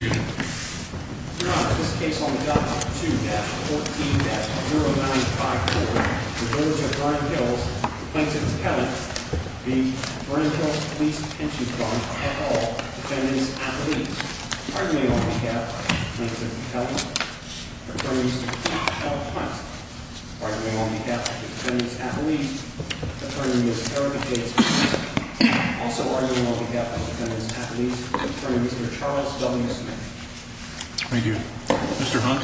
You know that this case on document 2-14-0954, the Village of Vernon Hills, plaintiff's appellant v. Vernon Hills Police Pension Fund, all defendants at least, arguing on behalf of plaintiff's appellant, attorney's Paul Hunt, arguing on behalf of defendants at least, attorney's Eric J. Smith, also arguing on behalf of defendants at least, attorney's Mr. Charles W. Smith. Thank you. Mr. Hunt?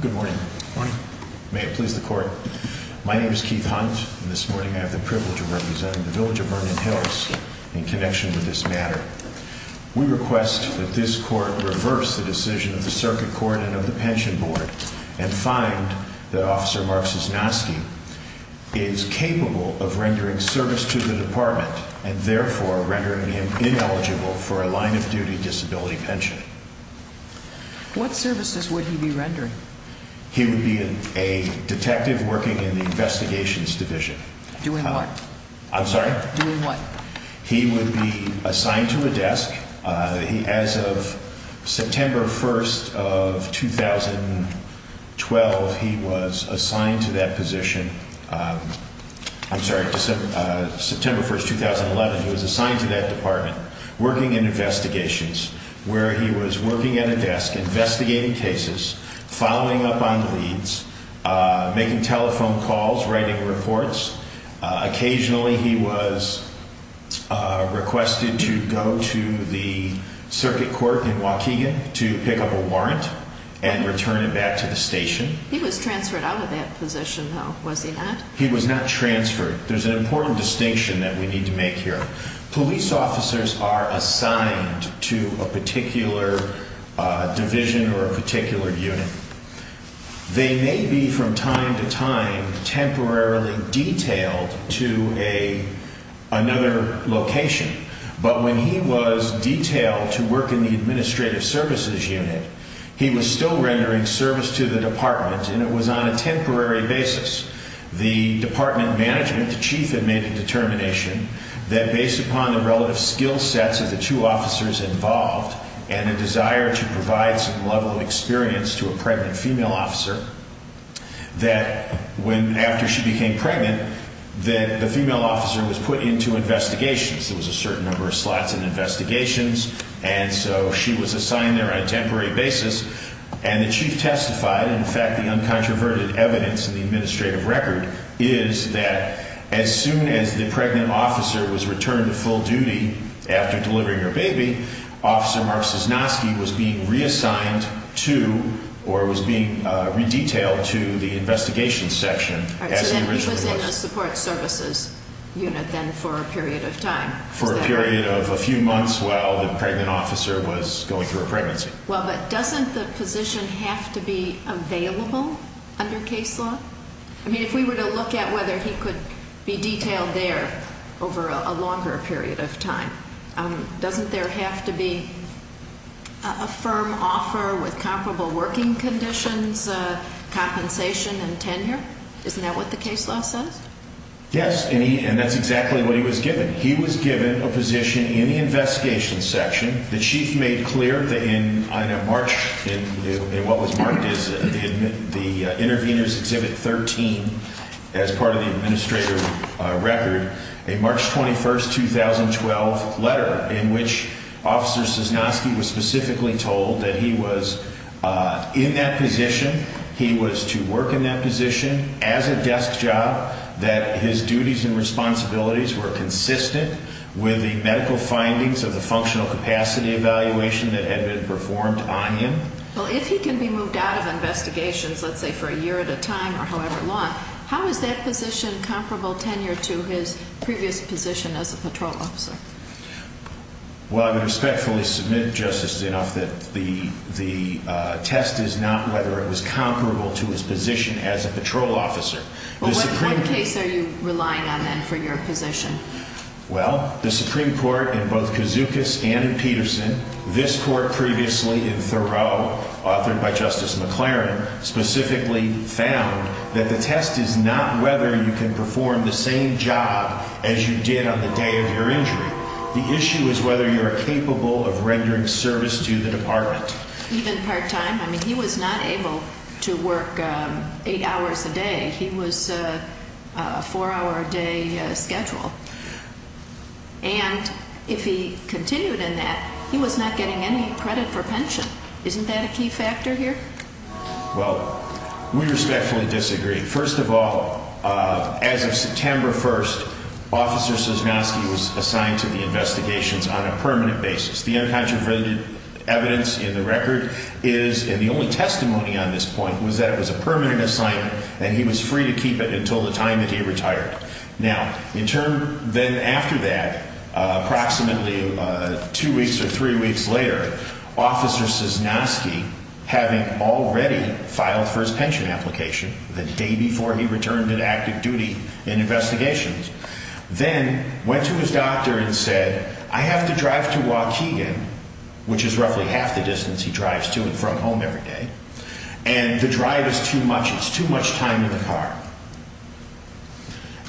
Good morning. May it please the court. My name is Keith Hunt, and this morning I have the privilege of representing the Village of Vernon Hills in connection with this matter. We request that this court reverse the decision of the Circuit Court and of the Pension Board and find that Officer Mark Cisnoski is capable of rendering service to the department, and therefore rendering him ineligible for a line-of-duty disability pension. What services would he be rendering? He would be a detective working in the Investigations Division. Doing what? I'm sorry? Doing what? He would be assigned to a desk. As of September 1st of 2012, he was assigned to that position. I'm sorry, September 1st, 2011, he was assigned to that department, working in Investigations, where he was working at a desk investigating cases, following up on leads, making telephone calls, writing reports. Occasionally, he was requested to go to the Circuit Court in Waukegan to pick up a warrant and return it back to the station. He was transferred out of that position, though, was he not? He was not transferred. There's an important distinction that we need to make here. Police officers are assigned to a particular division or a particular unit. They may be, from time to time, temporarily detailed to another location, but when he was detailed to work in the Administrative Services Unit, he was still rendering service to the department, and it was on a temporary basis. The department management, the chief, had made a determination that, based upon the relative skill sets of the two officers involved and a desire to provide some level of experience to a pregnant female officer, that when, after she became pregnant, that the female officer was put into Investigations. There was a certain number of slots in Investigations, and so she was assigned there on a temporary basis, and the chief testified. In fact, the uncontroverted evidence in the administrative record is that as soon as the pregnant officer was returned to full duty after delivering her baby, Officer Mark Cisnoski was being reassigned to or was being redetailed to the Investigations Section, as he originally was. He was in a Support Services Unit then for a period of time. For a period of a few months while the pregnant officer was going through a pregnancy. Well, but doesn't the position have to be available under case law? I mean, if we were to look at whether he could be detailed there over a longer period of time, doesn't there have to be a firm offer with comparable working conditions, compensation, and tenure? Isn't that what the case law says? Yes, and that's exactly what he was given. He was given a position in the Investigations Section. The chief made clear that in a March, in what was marked as the Intervenors Exhibit 13, as part of the administrative record, a March 21, 2012, letter in which Officer Cisnoski was specifically told that he was in that position, he was to work in that position, as a desk job, that his duties and responsibilities were consistent with the medical findings of the Functional Capacity Act. That was a capacity evaluation that had been performed on him. Well, if he can be moved out of investigations, let's say for a year at a time or however long, how is that position comparable tenure to his previous position as a patrol officer? Well, I would respectfully submit, Justice, that the test is not whether it was comparable to his position as a patrol officer. What case are you relying on then for your position? Well, the Supreme Court in both Kazukas and in Peterson, this court previously in Thoreau, authored by Justice McLaren, specifically found that the test is not whether you can perform the same job as you did on the day of your injury. The issue is whether you are capable of rendering service to the department. Even part-time? I mean, he was not able to work eight hours a day. He was a four-hour-a-day schedule. And if he continued in that, he was not getting any credit for pension. Isn't that a key factor here? Well, we respectfully disagree. First of all, as of September 1st, Officer Sosnowski was assigned to the investigations on a permanent basis. The uncontroverted evidence in the record is, and the only testimony on this point, was that it was a permanent assignment and he was free to keep it until the time that he retired. Now, in turn, then after that, approximately two weeks or three weeks later, Officer Sosnowski, having already filed for his pension application the day before he returned to active duty in investigations, then went to his doctor and said, I have to drive to Waukegan, which is roughly half the distance he drives to and from home every day, and the drive is too much. It's too much time in the car.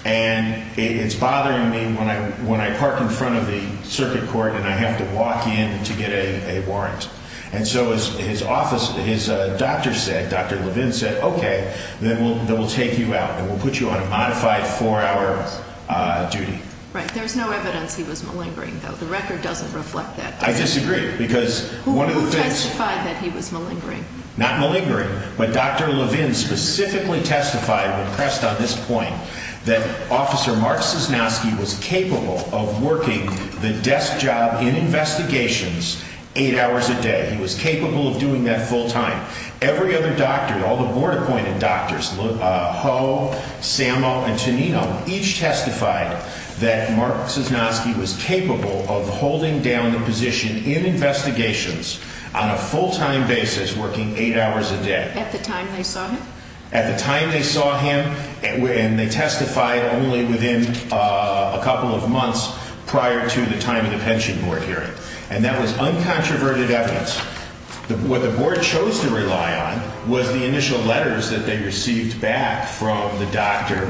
And it's bothering me when I park in front of the circuit court and I have to walk in to get a warrant. And so his office, his doctor said, Dr. Levin said, okay, then we'll take you out and we'll put you on a modified four-hour duty. Right. There's no evidence he was malingering, though. The record doesn't reflect that. I disagree, because one of the things... Who testified that he was malingering? Not malingering, but Dr. Levin specifically testified when pressed on this point that Officer Mark Sosnowski was capable of working the desk job in investigations eight hours a day. He was capable of doing that full-time. Every other doctor, all the board-appointed doctors, Ho, Sammo, and Tonino, each testified that Mark Sosnowski was capable of holding down the position in investigations on a full-time basis, working eight hours a day. At the time they saw him? And they testified only within a couple of months prior to the time of the pension board hearing. And that was uncontroverted evidence. What the board chose to rely on was the initial letters that they received back from the doctor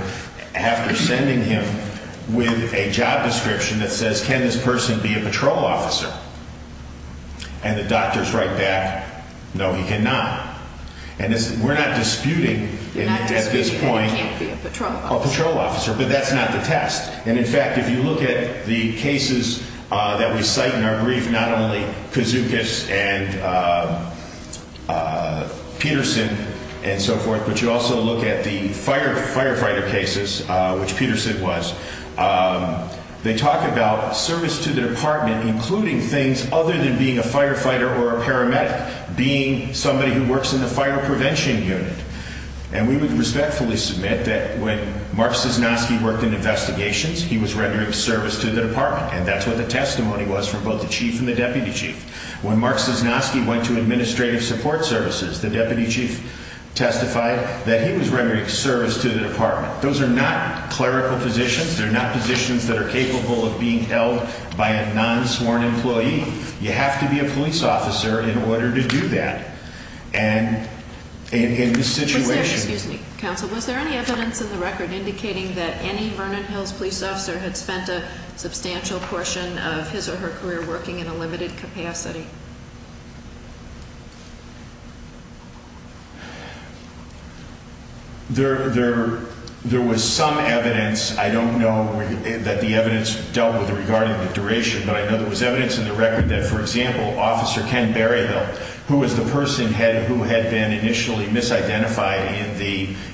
after sending him with a job description that says, can this person be a patrol officer? And the doctors write back, no, he cannot. And we're not disputing at this point... You're not disputing that he can't be a patrol officer. A patrol officer, but that's not the test. And, in fact, if you look at the cases that we cite in our brief, not only Kouzoukis and Peterson and so forth, but you also look at the firefighter cases, which Peterson was, they talk about service to the department, including things other than being a firefighter or a paramedic. Being somebody who works in the fire prevention unit. And we would respectfully submit that when Mark Cisnoski worked in investigations, he was rendering service to the department. And that's what the testimony was from both the chief and the deputy chief. When Mark Cisnoski went to administrative support services, the deputy chief testified that he was rendering service to the department. Those are not clerical positions. They're not positions that are capable of being held by a non-sworn employee. You have to be a police officer in order to do that. And in this situation... Excuse me, counsel. Was there any evidence in the record indicating that any Vernon Hills police officer had spent a substantial portion of his or her career working in a limited capacity? There was some evidence. I don't know that the evidence dealt with regarding the duration, but I know there was evidence in the record that, for example, Officer Ken Berryhill, who was the person who had been initially misidentified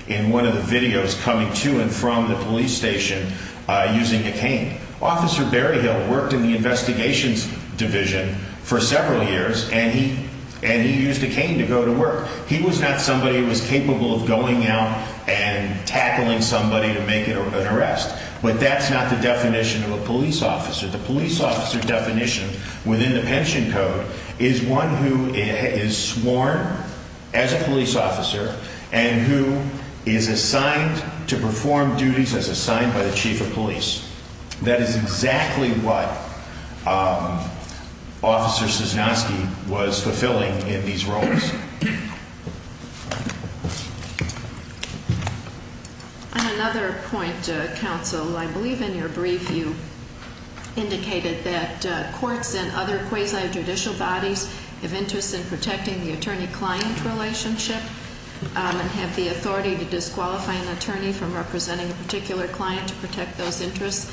in one of the videos coming to and from the police station using a cane. Officer Berryhill worked in the investigations division for several years, and he used a cane to go to work. He was not somebody who was capable of going out and tackling somebody to make an arrest. But that's not the definition of a police officer. The police officer definition within the pension code is one who is sworn as a police officer and who is assigned to perform duties as assigned by the chief of police. That is exactly what Officer Sosnowski was fulfilling in these roles. On another point, counsel, I believe in your brief you indicated that courts and other quasi-judicial bodies have interests in protecting the attorney-client relationship and have the authority to disqualify an attorney from representing a particular client to protect those interests.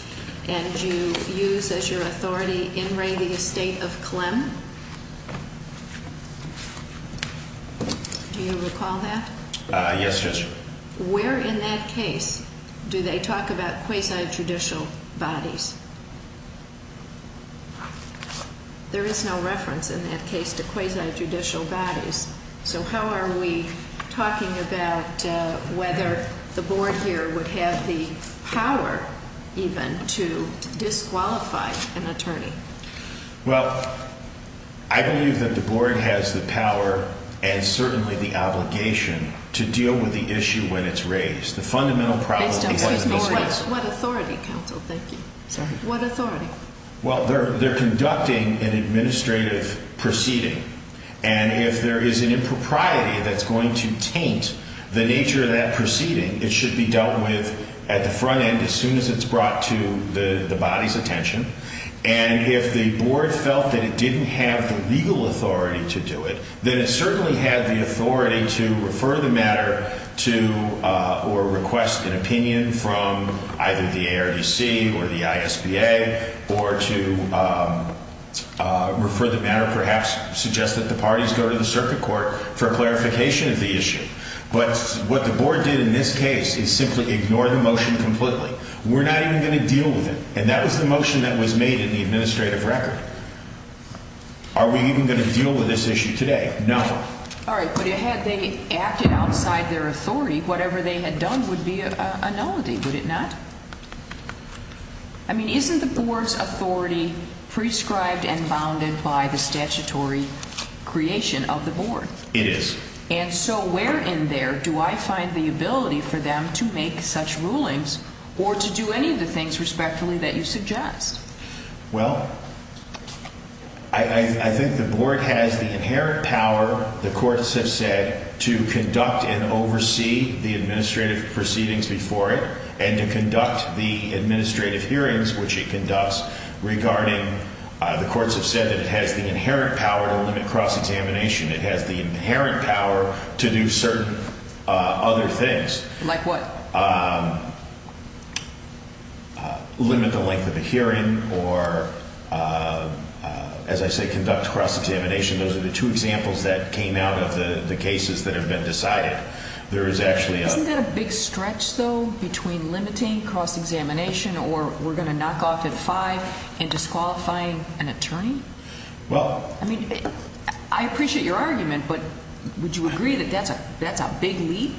And you use as your authority In re, the estate of Clem. Do you recall that? Yes, Judge. Where in that case do they talk about quasi-judicial bodies? There is no reference in that case to quasi-judicial bodies. So how are we talking about whether the board here would have the power even to disqualify an attorney? Well, I believe that the board has the power and certainly the obligation to deal with the issue when it's raised. The fundamental problem is what authority? Well, they're conducting an administrative proceeding. And if there is an impropriety that's going to taint the nature of that proceeding, it should be dealt with at the front end as soon as it's brought to the body's attention. And if the board felt that it didn't have the legal authority to do it, then it certainly had the authority to refer the matter to or request an opinion from either the ARDC or the ISBA or to refer the matter, perhaps suggest that the parties go to the circuit court for clarification of the issue. But what the board did in this case is simply ignore the motion completely. We're not even going to deal with it. And that was the motion that was made in the administrative record. Are we even going to deal with this issue today? No. All right. But had they acted outside their authority, whatever they had done would be a nullity, would it not? I mean, isn't the board's authority prescribed and bounded by the statutory creation of the board? It is. And so where in there do I find the ability for them to make such rulings or to do any of the things respectfully that you suggest? Well, I think the board has the inherent power, the courts have said, to conduct and oversee the administrative proceedings before it and to conduct the administrative hearings, which it conducts, regarding the courts have said that it has the inherent power to limit cross-examination. It has the inherent power to do certain other things. Like what? Limit the length of the hearing or, as I say, conduct cross-examination. Those are the two examples that came out of the cases that have been decided. Isn't that a big stretch, though, between limiting cross-examination or we're going to knock off at five and disqualifying an attorney? Well, I mean, I appreciate your argument, but would you agree that that's a big leap?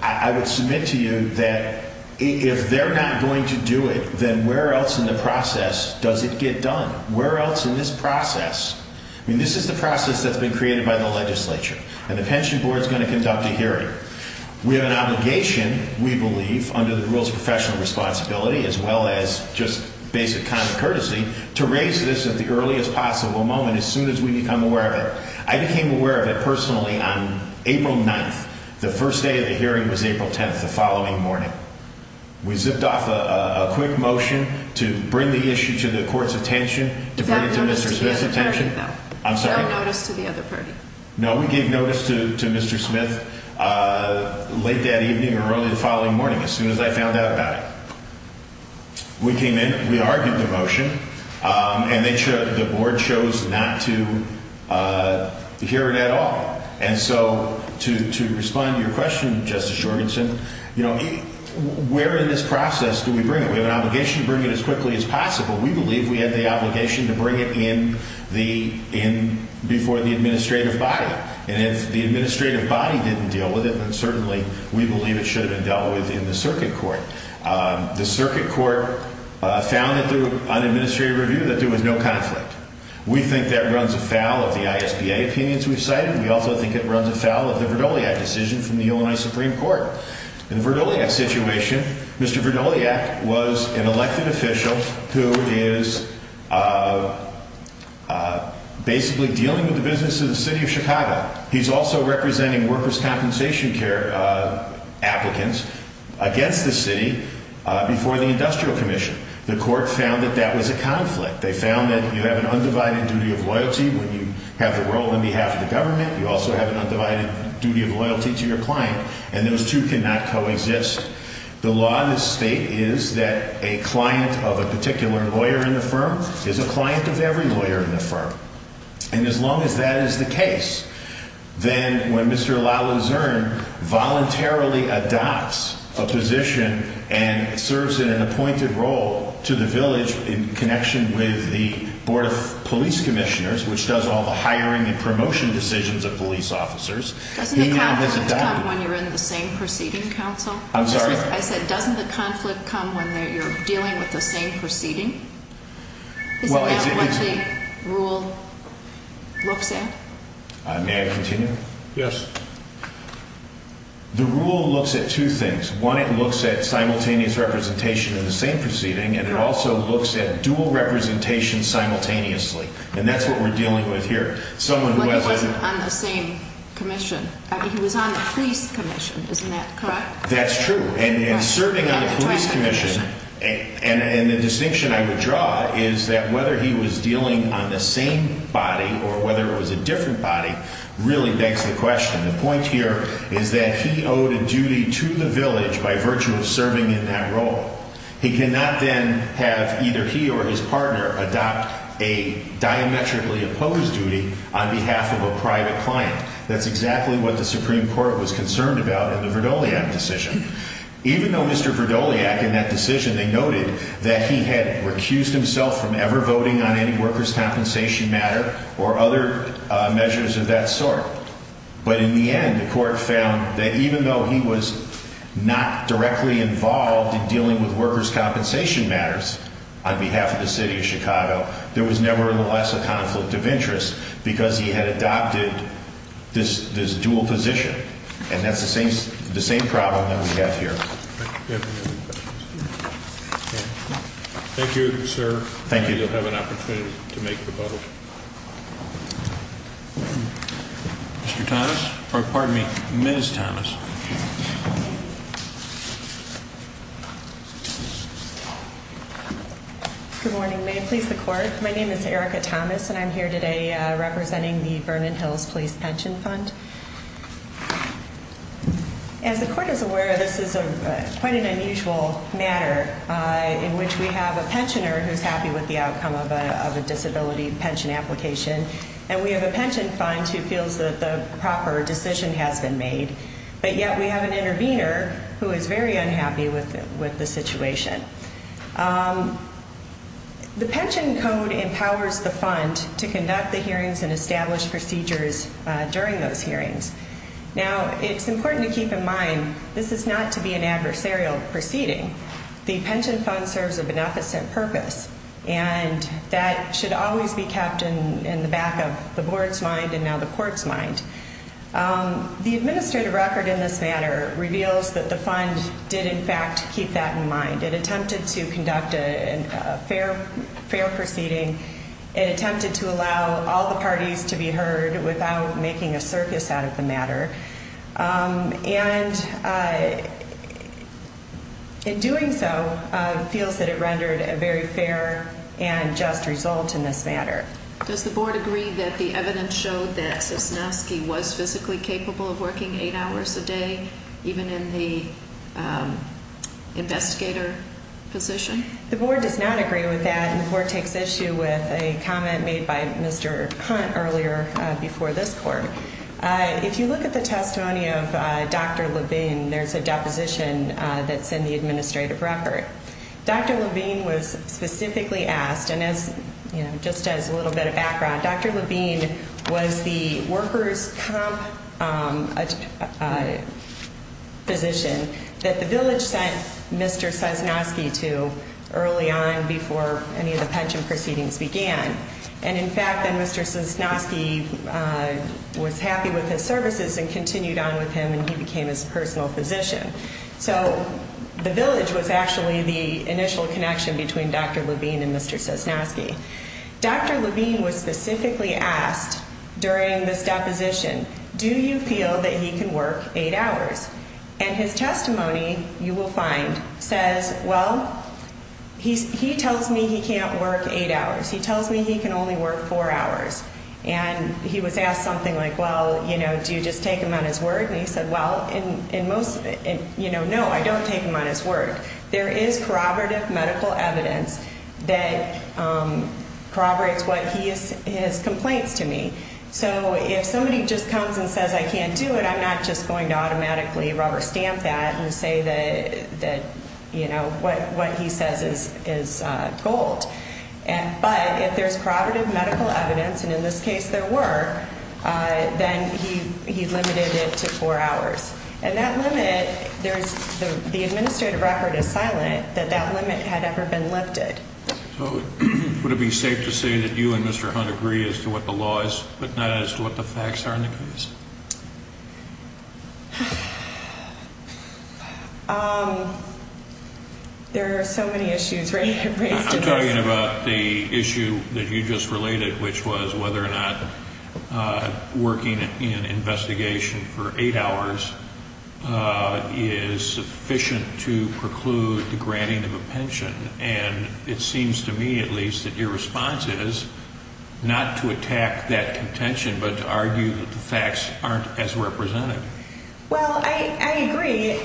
I would submit to you that if they're not going to do it, then where else in the process does it get done? Where else in this process? I mean, this is the process that's been created by the legislature, and the pension board is going to conduct a hearing. We have an obligation, we believe, under the rules of professional responsibility, as well as just basic common courtesy, to raise this at the earliest possible moment, as soon as we become aware of it. I became aware of it personally on April 9th. The first day of the hearing was April 10th, the following morning. We zipped off a quick motion to bring the issue to the court's attention, to bring it to Mr. Smith's attention. Is that notice to the other party, though? I'm sorry? Is that notice to the other party? No, we gave notice to Mr. Smith late that evening or early the following morning, as soon as I found out about it. We came in, we argued the motion, and the board chose not to hear it at all. And so, to respond to your question, Justice Jorgensen, you know, where in this process do we bring it? We have an obligation to bring it as quickly as possible. We believe we have the obligation to bring it before the administrative body. And if the administrative body didn't deal with it, then certainly we believe it should have been dealt with in the circuit court. The circuit court found, through an administrative review, that there was no conflict. We think that runs afoul of the ISBA opinions we've cited. We also think it runs afoul of the Verdoliak decision from the Illinois Supreme Court. In the Verdoliak situation, Mr. Verdoliak was an elected official who is basically dealing with the business of the city of Chicago. He's also representing workers' compensation care applicants against the city before the industrial commission. The court found that that was a conflict. They found that you have an undivided duty of loyalty when you have the role on behalf of the government. You also have an undivided duty of loyalty to your client, and those two cannot coexist. The law in this state is that a client of a particular lawyer in the firm is a client of every lawyer in the firm. And as long as that is the case, then when Mr. LaLuzerne voluntarily adopts a position and serves in an appointed role to the village in connection with the Board of Police Commissioners, which does all the hiring and promotion decisions of police officers, he now has adopted it. Doesn't the conflict come when you're in the same proceeding, counsel? I'm sorry? I said, doesn't the conflict come when you're dealing with the same proceeding? Is that what the rule looks at? May I continue? Yes. The rule looks at two things. One, it looks at simultaneous representation in the same proceeding, and it also looks at dual representation simultaneously, and that's what we're dealing with here. Well, he wasn't on the same commission. He was on the police commission. Isn't that correct? That's true. And in serving on the police commission, and the distinction I would draw is that whether he was dealing on the same body or whether it was a different body really begs the question. The point here is that he owed a duty to the village by virtue of serving in that role. He cannot then have either he or his partner adopt a diametrically opposed duty on behalf of a private client. That's exactly what the Supreme Court was concerned about in the Verdoliak decision. Even though Mr. Verdoliak in that decision, they noted that he had recused himself from ever voting on any workers' compensation matter or other measures of that sort. But in the end, the court found that even though he was not directly involved in dealing with workers' compensation matters on behalf of the city of Chicago, there was nevertheless a conflict of interest. Because he had adopted this dual position. And that's the same problem that we have here. Thank you, sir. Thank you. You'll have an opportunity to make the vote. Mr. Thomas? Pardon me. Ms. Thomas. Good morning. May it please the court. My name is Erica Thomas, and I'm here today representing the Vernon Hills Police Pension Fund. As the court is aware, this is quite an unusual matter in which we have a pensioner who's happy with the outcome of a disability pension application. And we have a pension fund who feels that the proper decision has been made. But yet we have an intervener who is very unhappy with the situation. The pension code empowers the fund to conduct the hearings and establish procedures during those hearings. Now, it's important to keep in mind this is not to be an adversarial proceeding. The pension fund serves a beneficent purpose. And that should always be kept in the back of the board's mind and now the court's mind. The administrative record in this matter reveals that the fund did in fact keep that in mind. It attempted to conduct a fair proceeding. It attempted to allow all the parties to be heard without making a circus out of the matter. And in doing so, it feels that it rendered a very fair and just result in this matter. Does the board agree that the evidence showed that Cisnowski was physically capable of working eight hours a day even in the investigator position? The board does not agree with that. And the board takes issue with a comment made by Mr. Hunt earlier before this court. If you look at the testimony of Dr. Levine, there's a deposition that's in the administrative record. Dr. Levine was specifically asked, and as, you know, just as a little bit of background, Dr. Levine was the workers' comp physician that the village sent Mr. Cisnowski to early on before any of the pension proceedings began. And, in fact, then Mr. Cisnowski was happy with his services and continued on with him and he became his personal physician. So the village was actually the initial connection between Dr. Levine and Mr. Cisnowski. Dr. Levine was specifically asked during this deposition, do you feel that he can work eight hours? And his testimony, you will find, says, well, he tells me he can't work eight hours. He tells me he can only work four hours. And he was asked something like, well, you know, do you just take him on his word? And he said, well, in most, you know, no, I don't take him on his word. There is corroborative medical evidence that corroborates what he is, his complaints to me. So if somebody just comes and says I can't do it, I'm not just going to automatically rubber stamp that and say that, you know, what he says is gold. But if there's corroborative medical evidence, and in this case there were, then he limited it to four hours. And that limit, the administrative record is silent that that limit had ever been lifted. So would it be safe to say that you and Mr. Hunt agree as to what the law is but not as to what the facts are in the case? I'm talking about the issue that you just related, which was whether or not working in investigation for eight hours is sufficient to preclude the granting of a pension. And it seems to me, at least, that your response is not to attack that contention but to argue that the facts aren't as represented. Well, I agree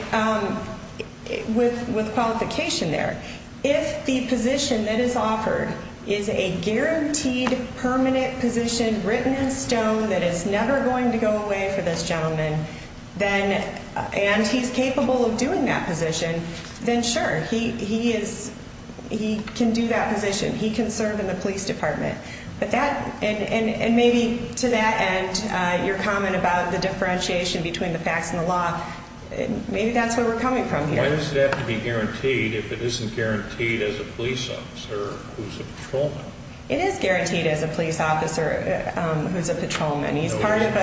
with qualification there. If the position that is offered is a guaranteed permanent position written in stone that is never going to go away for this gentleman, and he's capable of doing that position, then sure, he can do that position. He can serve in the police department. And maybe to that end, your comment about the differentiation between the facts and the law, maybe that's where we're coming from here. Why does it have to be guaranteed if it isn't guaranteed as a police officer who's a patrolman? It is guaranteed as a police officer who's a patrolman. Aren't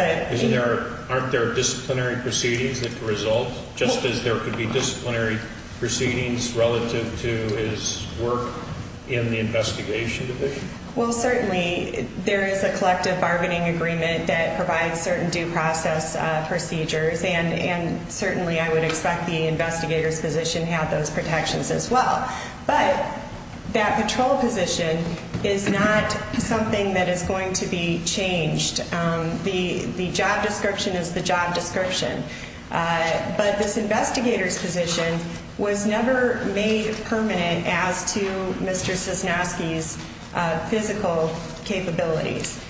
there disciplinary proceedings that result, just as there could be disciplinary proceedings relative to his work in the investigation division? Well, certainly there is a collective bargaining agreement that provides certain due process procedures. And certainly I would expect the investigator's position had those protections as well. But that patrol position is not something that is going to be changed. The job description is the job description. But this investigator's position was never made permanent as to Mr. Cisnowski's physical capabilities.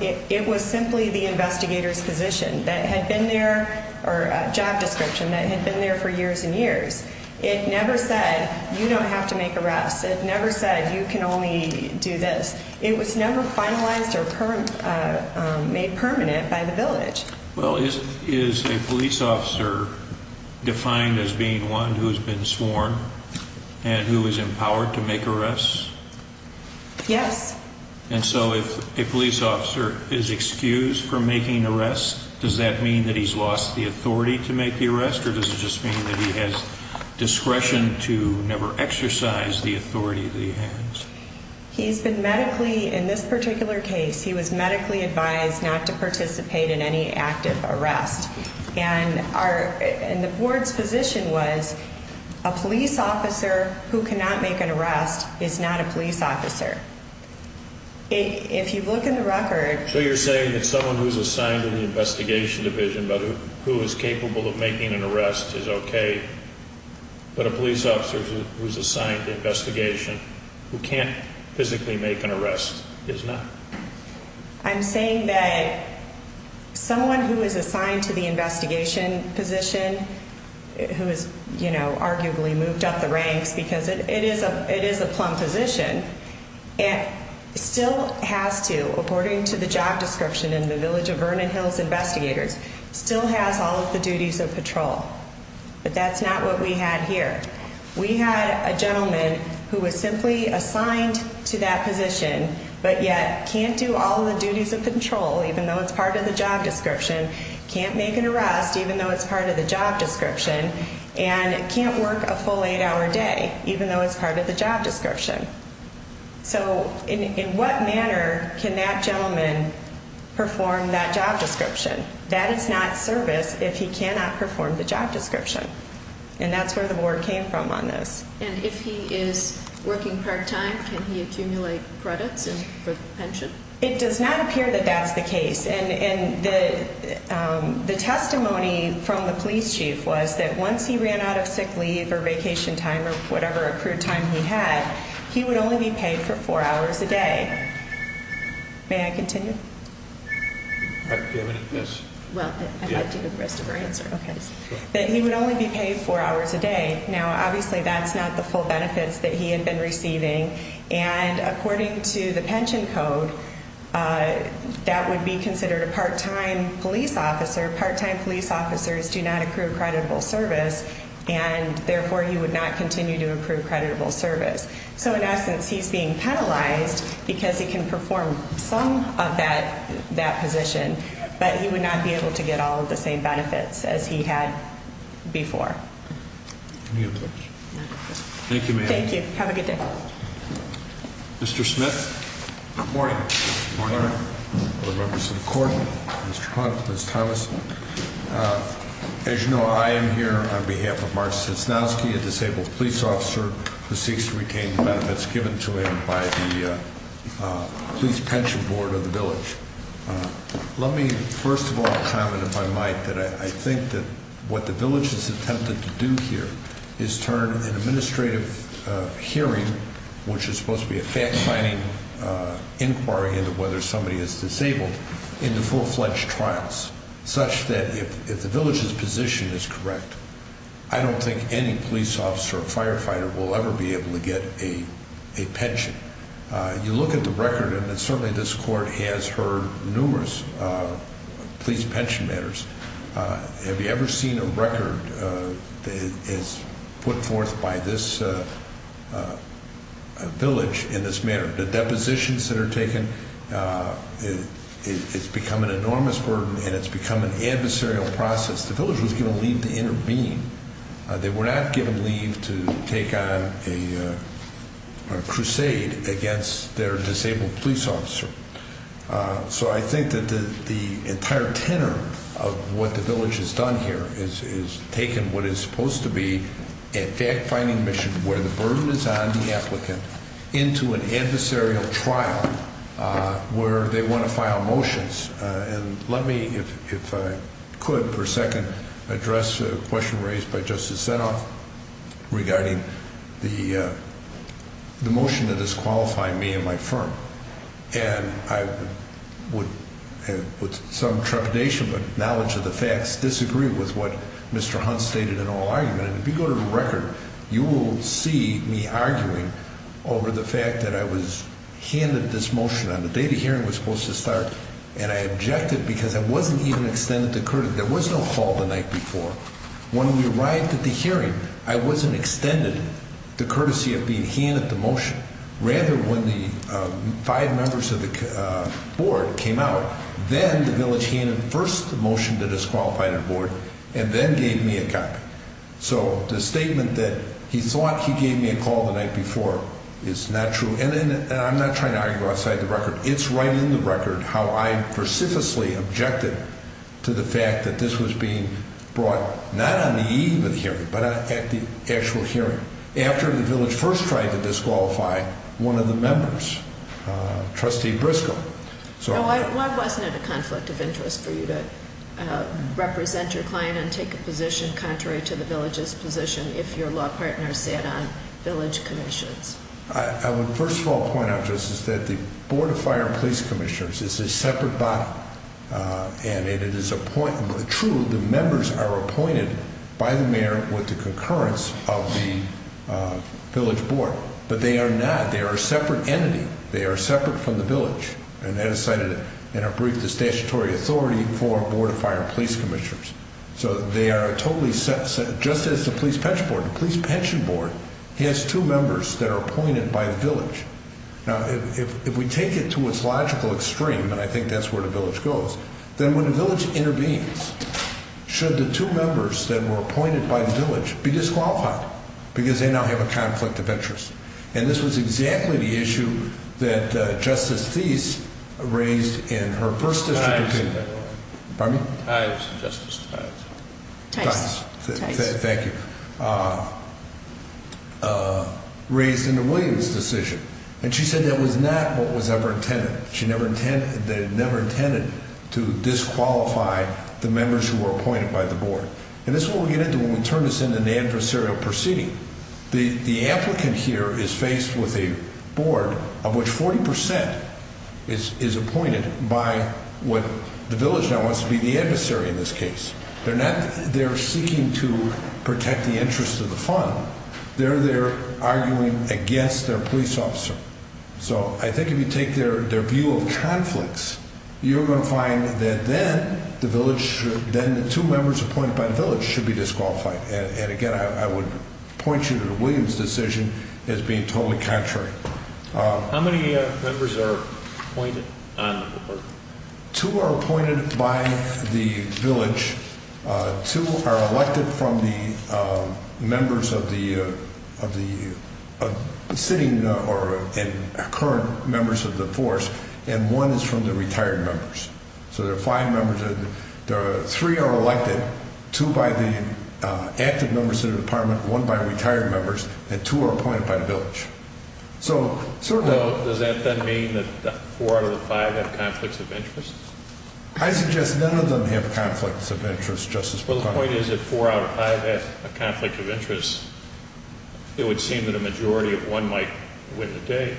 It was simply the investigator's position that had been there or job description that had been there for years and years. It never said you don't have to make arrests. It never said you can only do this. It was never finalized or made permanent by the village. Well, is a police officer defined as being one who has been sworn and who is empowered to make arrests? Yes. And so if a police officer is excused from making arrests, does that mean that he's lost the authority to make the arrest? Or does it just mean that he has discretion to never exercise the authority that he has? He's been medically, in this particular case, he was medically advised not to participate in any active arrest. And the board's position was a police officer who cannot make an arrest is not a police officer. If you look in the record. So you're saying that someone who's assigned to the investigation division but who is capable of making an arrest is okay, but a police officer who's assigned to investigation who can't physically make an arrest is not? I'm saying that someone who is assigned to the investigation position who is, you know, arguably moved up the ranks because it is a it is a plumb position and still has to, according to the job description in the village of Vernon Hills, investigators still has all of the duties of patrol. But that's not what we had here. We had a gentleman who was simply assigned to that position, but yet can't do all the duties of control, even though it's part of the job description, can't make an arrest, even though it's part of the job description and can't work a full eight hour day, even though it's part of the job description. So in what manner can that gentleman perform that job description? That is not service if he cannot perform the job description. And that's where the board came from on this. And if he is working part time, can he accumulate credits for pension? It does not appear that that's the case. And the testimony from the police chief was that once he ran out of sick leave or vacation time or whatever accrued time he had, he would only be paid for four hours a day. May I continue? Do you have anything else? Well, I have to give the rest of her answer. That he would only be paid four hours a day. Now, obviously, that's not the full benefits that he had been receiving. And according to the pension code, that would be considered a part-time police officer. Part-time police officers do not accrue creditable service, and therefore he would not continue to accrue creditable service. So in essence, he's being penalized because he can perform some of that position, but he would not be able to get all of the same benefits as he had before. Any other questions? Thank you, ma'am. Thank you. Have a good day. Mr. Smith. Good morning. Good morning. To the members of the court, Mr. Hunt, Ms. Thomas. As you know, I am here on behalf of Mark Cisnowski, a disabled police officer who seeks to retain the benefits given to him by the police pension board of the village. Let me first of all comment, if I might, that I think that what the village has attempted to do here is turn an administrative hearing, which is supposed to be a fact-finding inquiry into whether somebody is disabled, into full-fledged trials, such that if the village's position is correct, I don't think any police officer or firefighter will ever be able to get a pension. You look at the record, and certainly this court has heard numerous police pension matters. Have you ever seen a record that is put forth by this village in this manner? The depositions that are taken, it's become an enormous burden, and it's become an adversarial process. The village was given leave to intervene. They were not given leave to take on a crusade against their disabled police officer. So I think that the entire tenor of what the village has done here is taken what is supposed to be a fact-finding mission where the burden is on the applicant into an adversarial trial where they want to file motions. And let me, if I could for a second, address a question raised by Justice Zinoff regarding the motion that is qualifying me and my firm. And I would, with some trepidation but knowledge of the facts, disagree with what Mr. Hunt stated in all argument. And if you go to the record, you will see me arguing over the fact that I was handed this motion. On the day the hearing was supposed to start, and I objected because I wasn't even extended the courtesy. There was no call the night before. When we arrived at the hearing, I wasn't extended the courtesy of being handed the motion. Rather, when the five members of the board came out, then the village handed first the motion that is qualified on board and then gave me a copy. So the statement that he thought he gave me a call the night before is not true. And I'm not trying to argue outside the record. It's right in the record how I precipitously objected to the fact that this was being brought not on the eve of the hearing but at the actual hearing after the village first tried to disqualify one of the members, Trustee Briscoe. Why wasn't it a conflict of interest for you to represent your client and take a position contrary to the village's position if your law partner sat on village commissions? I would first of all point out, Justice, that the Board of Fire and Police Commissioners is a separate body. And it is true the members are appointed by the mayor with the concurrence of the village board. But they are not. They are a separate entity. They are separate from the village. And that is cited in our brief, the statutory authority for Board of Fire and Police Commissioners. So they are totally separate. Just as the police pension board has two members that are appointed by the village. Now if we take it to its logical extreme, and I think that's where the village goes, then when the village intervenes, should the two members that were appointed by the village be disqualified? Because they now have a conflict of interest. And this was exactly the issue that Justice Thies raised in her first district opinion. Pardon me? Justice Thies. Thies. Thank you. Raised in the Williams decision. And she said that was not what was ever intended. She never intended to disqualify the members who were appointed by the board. And this is what we get into when we turn this into an adversarial proceeding. The applicant here is faced with a board of which 40% is appointed by what the village now wants to be the adversary in this case. They're seeking to protect the interest of the fund. They're there arguing against their police officer. So I think if you take their view of conflicts, you're going to find that then the two members appointed by the village should be disqualified. And, again, I would point you to the Williams decision as being totally contrary. How many members are appointed on the board? Two are appointed by the village. Two are elected from the members of the sitting or current members of the force. And one is from the retired members. So there are five members. Three are elected. Two by the active members of the department. One by retired members. And two are appointed by the village. So does that then mean that four out of the five have conflicts of interest? I suggest none of them have conflicts of interest, Justice McConnell. Well, the point is if four out of five have a conflict of interest, it would seem that a majority of one might win the day.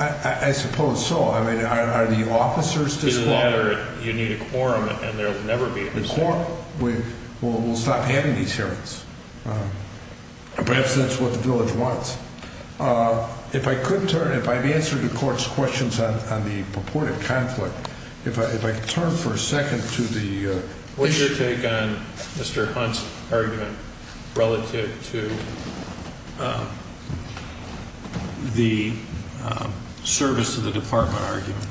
I suppose so. I mean, are the officers disqualified? You need a quorum, and there will never be a quorum. The quorum will stop having these hearings. Perhaps that's what the village wants. If I could turn, if I could answer the court's questions on the purported conflict, if I could turn for a second to the What's your take on Mr. Hunt's argument relative to the service to the department argument?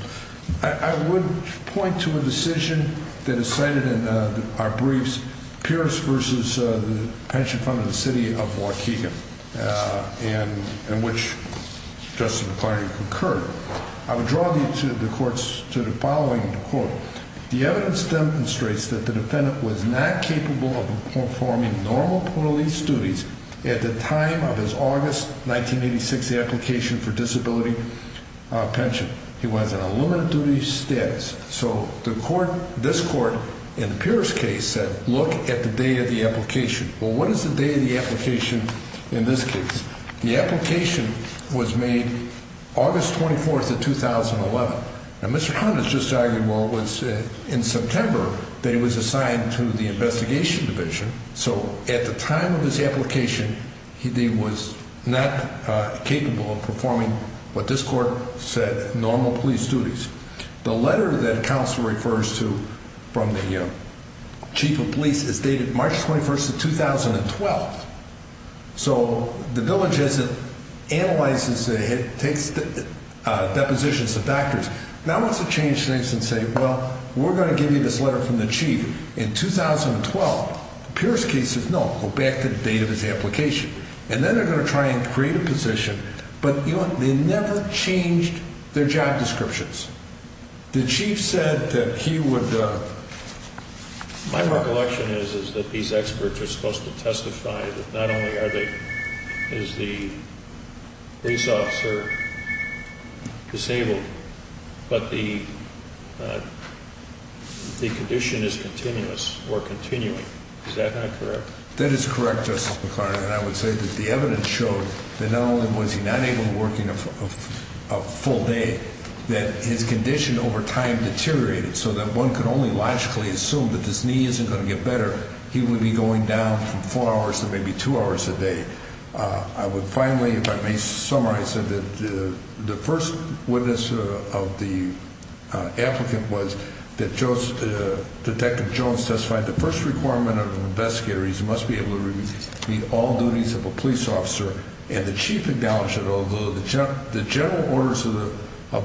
I would point to a decision that is cited in our briefs, Pierce v. Pension Fund of the City of Waukegan, in which Justice McClary concurred. I would draw you to the court's, to the following court. The evidence demonstrates that the defendant was not capable of performing normal police duties at the time of his August 1986 application for disability pension. He was in a limited-duty status. So the court, this court, in the Pierce case said, look at the date of the application. Well, what is the date of the application in this case? The application was made August 24th of 2011. Now, Mr. Hunt has just argued, well, it was in September that he was assigned to the investigation division. So at the time of this application, he was not capable of performing what this court said, normal police duties. The letter that counsel refers to from the chief of police is dated March 21st of 2012. So the village isn't analyzing, it takes depositions of factors. Now, I want to change things and say, well, we're going to give you this letter from the chief in 2012. The Pierce case says, no, go back to the date of his application. And then they're going to try and create a position. But, you know, they never changed their job descriptions. The chief said that he would. My recollection is that these experts are supposed to testify that not only is the police officer disabled, but the condition is continuous or continuing. Is that not correct? That is correct, Justice McClarty. And I would say that the evidence showed that not only was he not able to work in a full day, that his condition over time deteriorated so that one could only logically assume that this knee isn't going to get better. He would be going down from four hours to maybe two hours a day. I would finally, if I may summarize it, that the first witness of the applicant was that Detective Jones testified the first requirement of an investigator is he must be able to complete all duties of a police officer. And the chief acknowledged that although the general orders of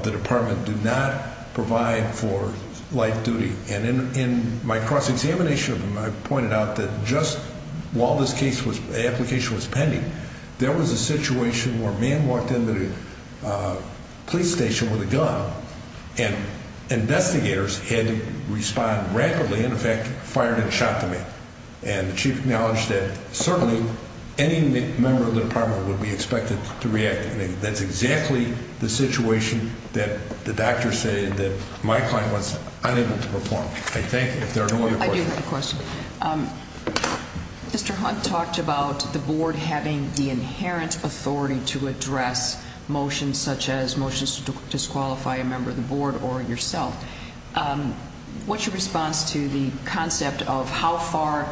the department do not provide for light duty. And in my cross-examination of him, I pointed out that just while this case application was pending, there was a situation where a man walked into the police station with a gun and investigators had to respond rapidly and, in fact, fired and shot the man. And the chief acknowledged that certainly any member of the department would be expected to react. And that's exactly the situation that the doctor said that my client was unable to perform. I thank you. If there are no other questions. I do have a question. Mr. Hunt talked about the board having the inherent authority to address motions such as motions to disqualify a member of the board or yourself. What's your response to the concept of how far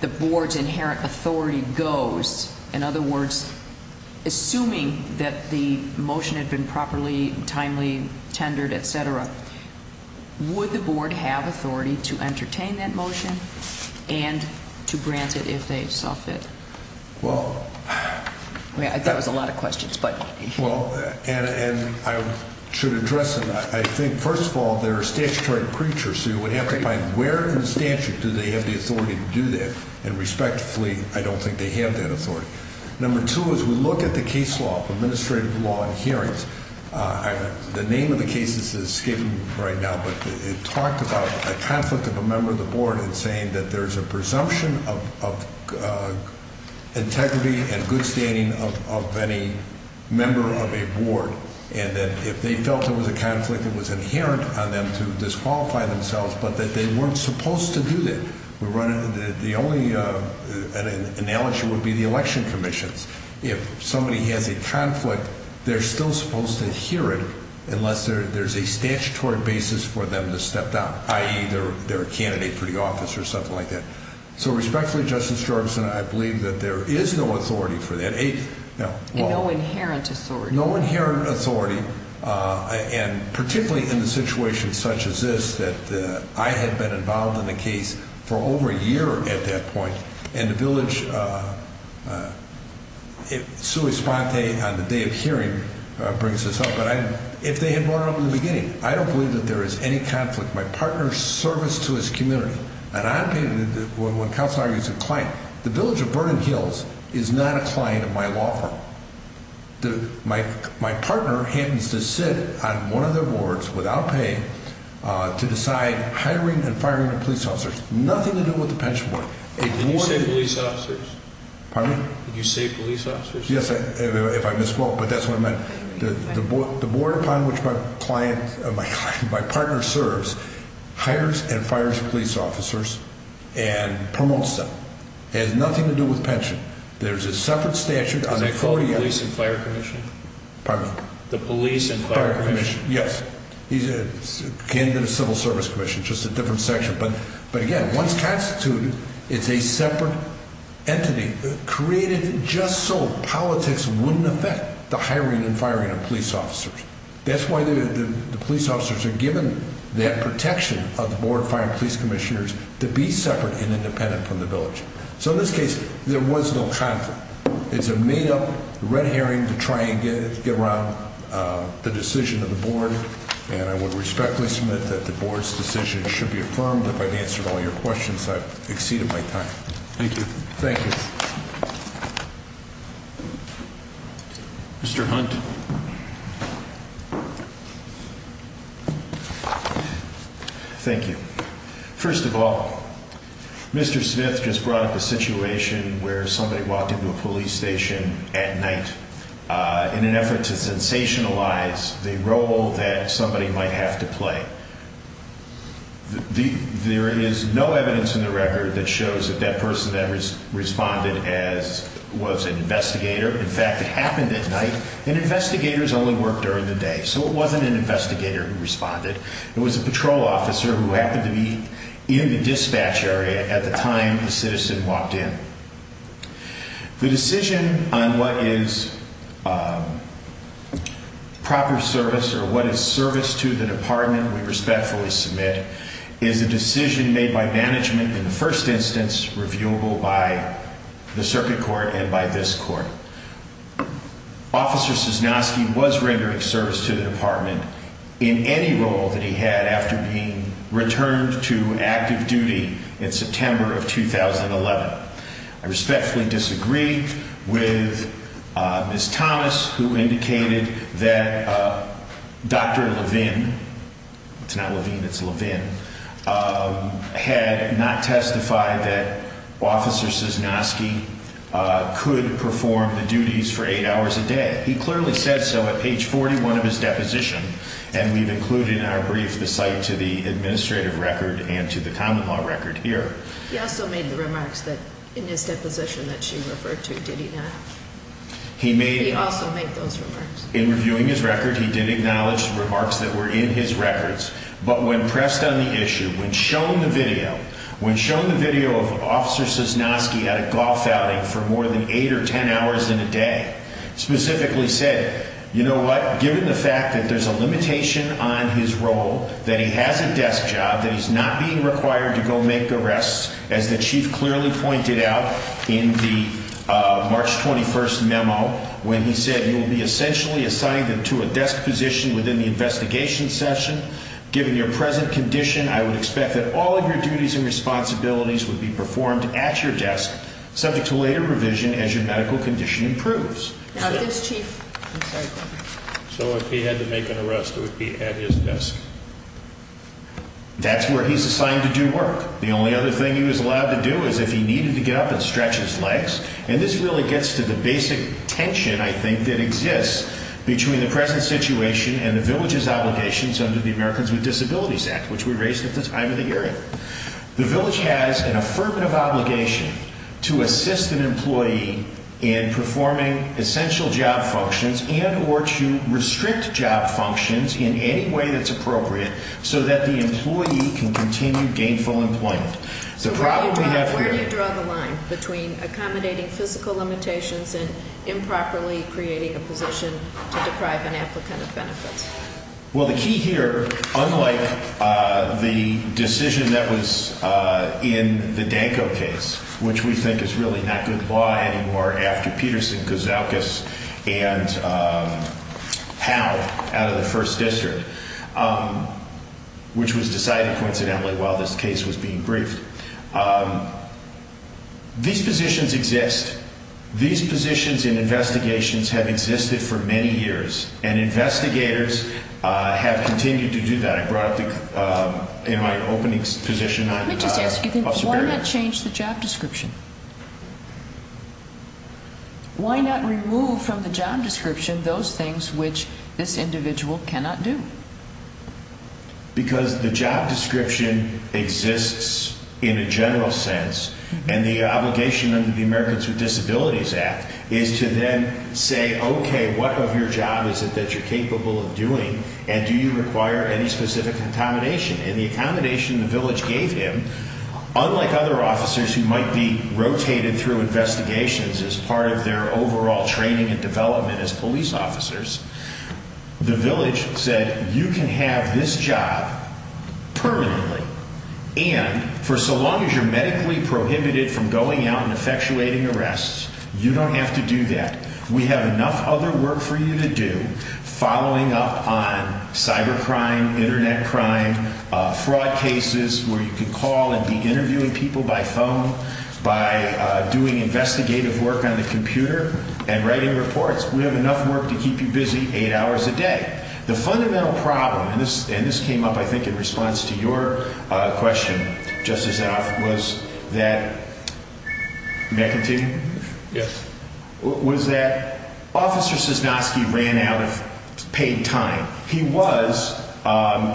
the board's inherent authority goes? In other words, assuming that the motion had been properly, timely, tendered, et cetera, would the board have authority to entertain that motion and to grant it if they saw fit? Well. I mean, I thought it was a lot of questions, but. Well, and I should address them. I think, first of all, they're a statutory preacher, so you would have to find where in the statute do they have the authority to do that. And respectfully, I don't think they have that authority. Number two is we look at the case law, administrative law, and hearings. The name of the case is skimmed right now, but it talked about a conflict of a member of the board in saying that there's a presumption of integrity and good standing of any member of a board. And that if they felt there was a conflict, it was inherent on them to disqualify themselves, but that they weren't supposed to do that. The only analogy would be the election commissions. If somebody has a conflict, they're still supposed to hear it unless there's a statutory basis for them to step down, i.e., they're a candidate for the office or something like that. So respectfully, Justice Jorgenson, I believe that there is no authority for that. And no inherent authority. No inherent authority, and particularly in a situation such as this that I had been involved in a case for over a year at that point. And the village, Sue Esponte on the day of hearing brings this up, but if they had brought it up in the beginning, I don't believe that there is any conflict. My partner's service to his community. And I believe that when counsel argues a client, the village of Vernon Hills is not a client of my law firm. My partner happens to sit on one of their boards without paying to decide hiring and firing the police officers. Nothing to do with the pension board. Did you say police officers? Pardon me? Did you say police officers? Yes, if I misspoke, but that's what I meant. The board upon which my partner serves hires and fires police officers and promotes them. It has nothing to do with pension. There's a separate statute. Is that called the police and fire commission? Pardon me? The police and fire commission. Yes. It can't even be the civil service commission. It's just a different section. But again, once constituted, it's a separate entity created just so politics wouldn't affect the hiring and firing of police officers. That's why the police officers are given that protection of the board of fire and police commissioners to be separate and independent from the village. So in this case, there was no conflict. It's a made up red herring to try and get around the decision of the board. And I would respectfully submit that the board's decision should be affirmed. If I've answered all your questions, I've exceeded my time. Thank you. Thank you. Mr. Hunt. Thank you. First of all, Mr. Smith just brought up a situation where somebody walked into a police station at night in an effort to sensationalize the role that somebody might have to play. There is no evidence in the record that shows that that person ever responded as was an investigator. In fact, it happened at night and investigators only work during the day. So it wasn't an investigator who responded. It was a patrol officer who happened to be in the dispatch area at the time the citizen walked in. The decision on what is proper service or what is service to the department we respectfully submit is a decision made by management in the first instance reviewable by the circuit court and by this court. Officer Cisnowski was rendering service to the department in any role that he had after being returned to active duty in September of 2011. I respectfully disagree with Ms. Thomas, who indicated that Dr. Levin, it's not Levine, it's Levin, had not testified that Officer Cisnowski could perform the duties for eight hours a day. He clearly said so at page 41 of his deposition, and we've included in our brief the site to the administrative record and to the common law record here. He also made the remarks that in his deposition that she referred to, did he not? He made also make those remarks. In reviewing his record, he did acknowledge the remarks that were in his records. But when pressed on the issue, when shown the video, when shown the video of Officer Cisnowski at a golf outing for more than eight or ten hours in a day, specifically said, you know what, given the fact that there's a limitation on his role, that he has a desk job, that he's not being required to go make arrests, as the chief clearly pointed out in the March 21st memo, when he said, you will be essentially assigned to a desk position within the investigation session. Given your present condition, I would expect that all of your duties and responsibilities would be performed at your desk, subject to later revision as your medical condition improves. So if he had to make an arrest, it would be at his desk? That's where he's assigned to do work. The only other thing he was allowed to do is if he needed to get up and stretch his legs. And this really gets to the basic tension, I think, that exists between the present situation and the village's obligations under the Americans with Disabilities Act, which we raised at the time of the hearing. The village has an affirmative obligation to assist an employee in performing essential job functions and or to restrict job functions in any way that's appropriate so that the employee can continue gainful employment. So where do you draw the line between accommodating physical limitations and improperly creating a position to deprive an applicant of benefits? Well, the key here, unlike the decision that was in the Danko case, which we think is really not good law anymore after Peterson, Kouzoukis, and Howe out of the First District, which was decided, coincidentally, while this case was being briefed, these positions exist. These positions in investigations have existed for many years, and investigators have continued to do that. I brought up in my opening position on Superior. Let me just ask you this. Why not change the job description? Why not remove from the job description those things which this individual cannot do? Because the job description exists in a general sense, and the obligation under the Americans with Disabilities Act is to then say, okay, what of your job is it that you're capable of doing, and do you require any specific accommodation? And the accommodation the village gave him, unlike other officers who might be rotated through investigations as part of their overall training and development as police officers, the village said, you can have this job permanently, and for so long as you're medically prohibited from going out and effectuating arrests, you don't have to do that. We have enough other work for you to do, following up on cybercrime, Internet crime, fraud cases where you can call and be interviewing people by phone, by doing investigative work on the computer, and writing reports. We have enough work to keep you busy eight hours a day. The fundamental problem, and this came up, I think, in response to your question, Justice Alford, was that, may I continue? Yes. Was that Officer Cisnoski ran out of paid time. He was,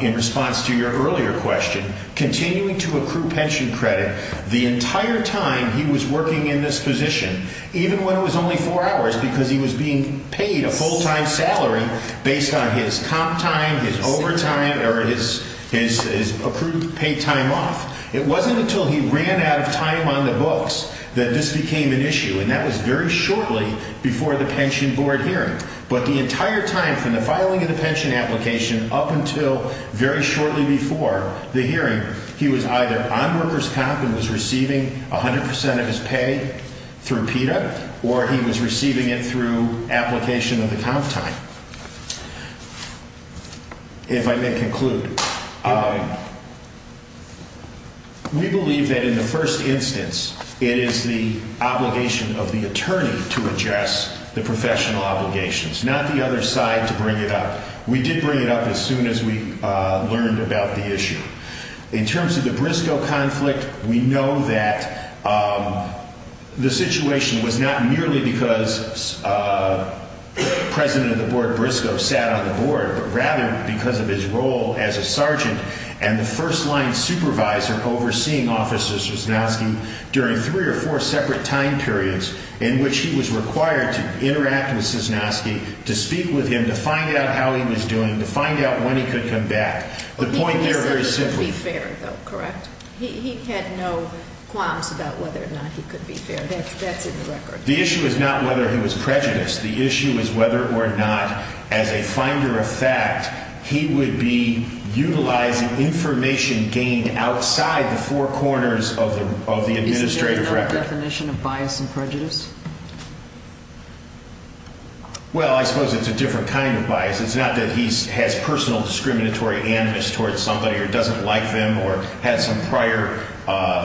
in response to your earlier question, continuing to accrue pension credit the entire time he was working in this position, even when it was only four hours, because he was being paid a full-time salary based on his comp time, his overtime, or his accrued paid time off. It wasn't until he ran out of time on the books that this became an issue, and that was very shortly before the pension board hearing. But the entire time from the filing of the pension application up until very shortly before the hearing, he was either on workers' comp and was receiving 100 percent of his pay through PETA, or he was receiving it through application of the comp time. If I may conclude, we believe that in the first instance, it is the obligation of the attorney to address the professional obligations, not the other side to bring it up. We did bring it up as soon as we learned about the issue. In terms of the Briscoe conflict, we know that the situation was not merely because President of the Board Briscoe sat on the board, but rather because of his role as a sergeant and the first-line supervisor overseeing Officer Cisnoski during three or four separate time periods in which he was required to interact with Cisnoski, to speak with him, to find out how he was doing, to find out when he could come back. The point there is very simple. He could certainly be fair, though, correct? He had no qualms about whether or not he could be fair. That's in the record. The issue is not whether he was prejudiced. The issue is whether or not, as a finder of fact, he would be utilizing information gained outside the four corners of the administrative record. Isn't there another definition of bias and prejudice? Well, I suppose it's a different kind of bias. It's not that he has personal discriminatory animus towards somebody or doesn't like them or had some prior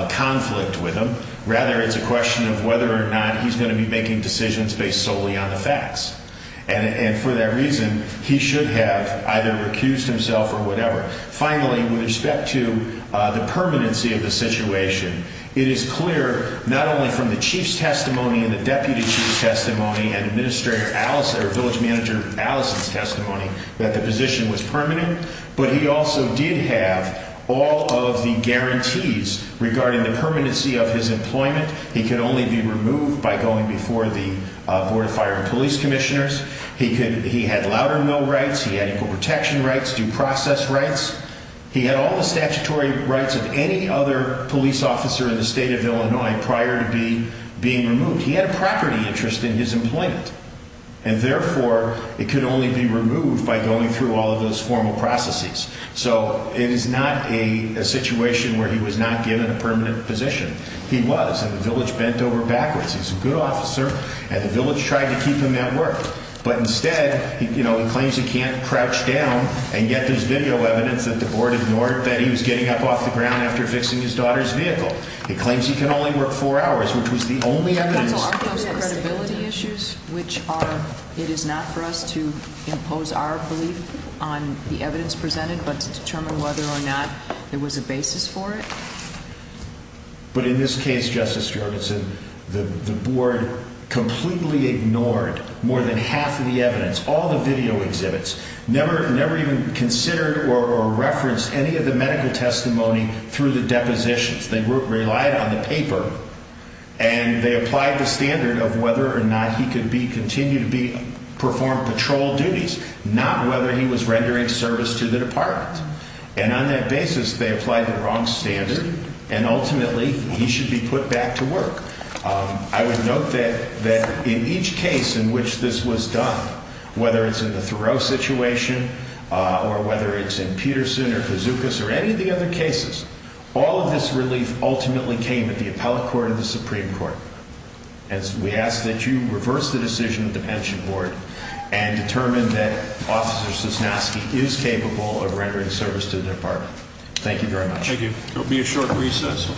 conflict with them. Rather, it's a question of whether or not he's going to be making decisions based solely on the facts. And for that reason, he should have either recused himself or whatever. Finally, with respect to the permanency of the situation, it is clear not only from the chief's testimony and the deputy chief's testimony and village manager Allison's testimony that the position was permanent, but he also did have all of the guarantees regarding the permanency of his employment. He could only be removed by going before the Board of Fire and Police Commissioners. He had louder no rights. He had equal protection rights, due process rights. He had all the statutory rights of any other police officer in the state of Illinois prior to being removed. He had a property interest in his employment, and therefore, it could only be removed by going through all of those formal processes. So it is not a situation where he was not given a permanent position. He was, and the village bent over backwards. He's a good officer, and the village tried to keep him at work. But instead, you know, he claims he can't crouch down and get those video evidence that the board ignored that he was getting up off the ground after fixing his daughter's vehicle. He claims he can only work four hours, which was the only evidence. We have pencil archives credibility issues, which are, it is not for us to impose our belief on the evidence presented, but to determine whether or not there was a basis for it. But in this case, Justice Jorgensen, the board completely ignored more than half of the evidence. All the video exhibits, never even considered or referenced any of the medical testimony through the depositions. They relied on the paper, and they applied the standard of whether or not he could continue to perform patrol duties, not whether he was rendering service to the department. And on that basis, they applied the wrong standard. And ultimately, he should be put back to work. I would note that that in each case in which this was done, whether it's in the Thoreau situation or whether it's in Peterson or bazookas or any of the other cases, all of this relief ultimately came at the appellate court of the Supreme Court. As we ask that you reverse the decision of the pension board and determine that officers is nasty, is capable of rendering service to the department. Thank you very much. Thank you. It'll be a short recess.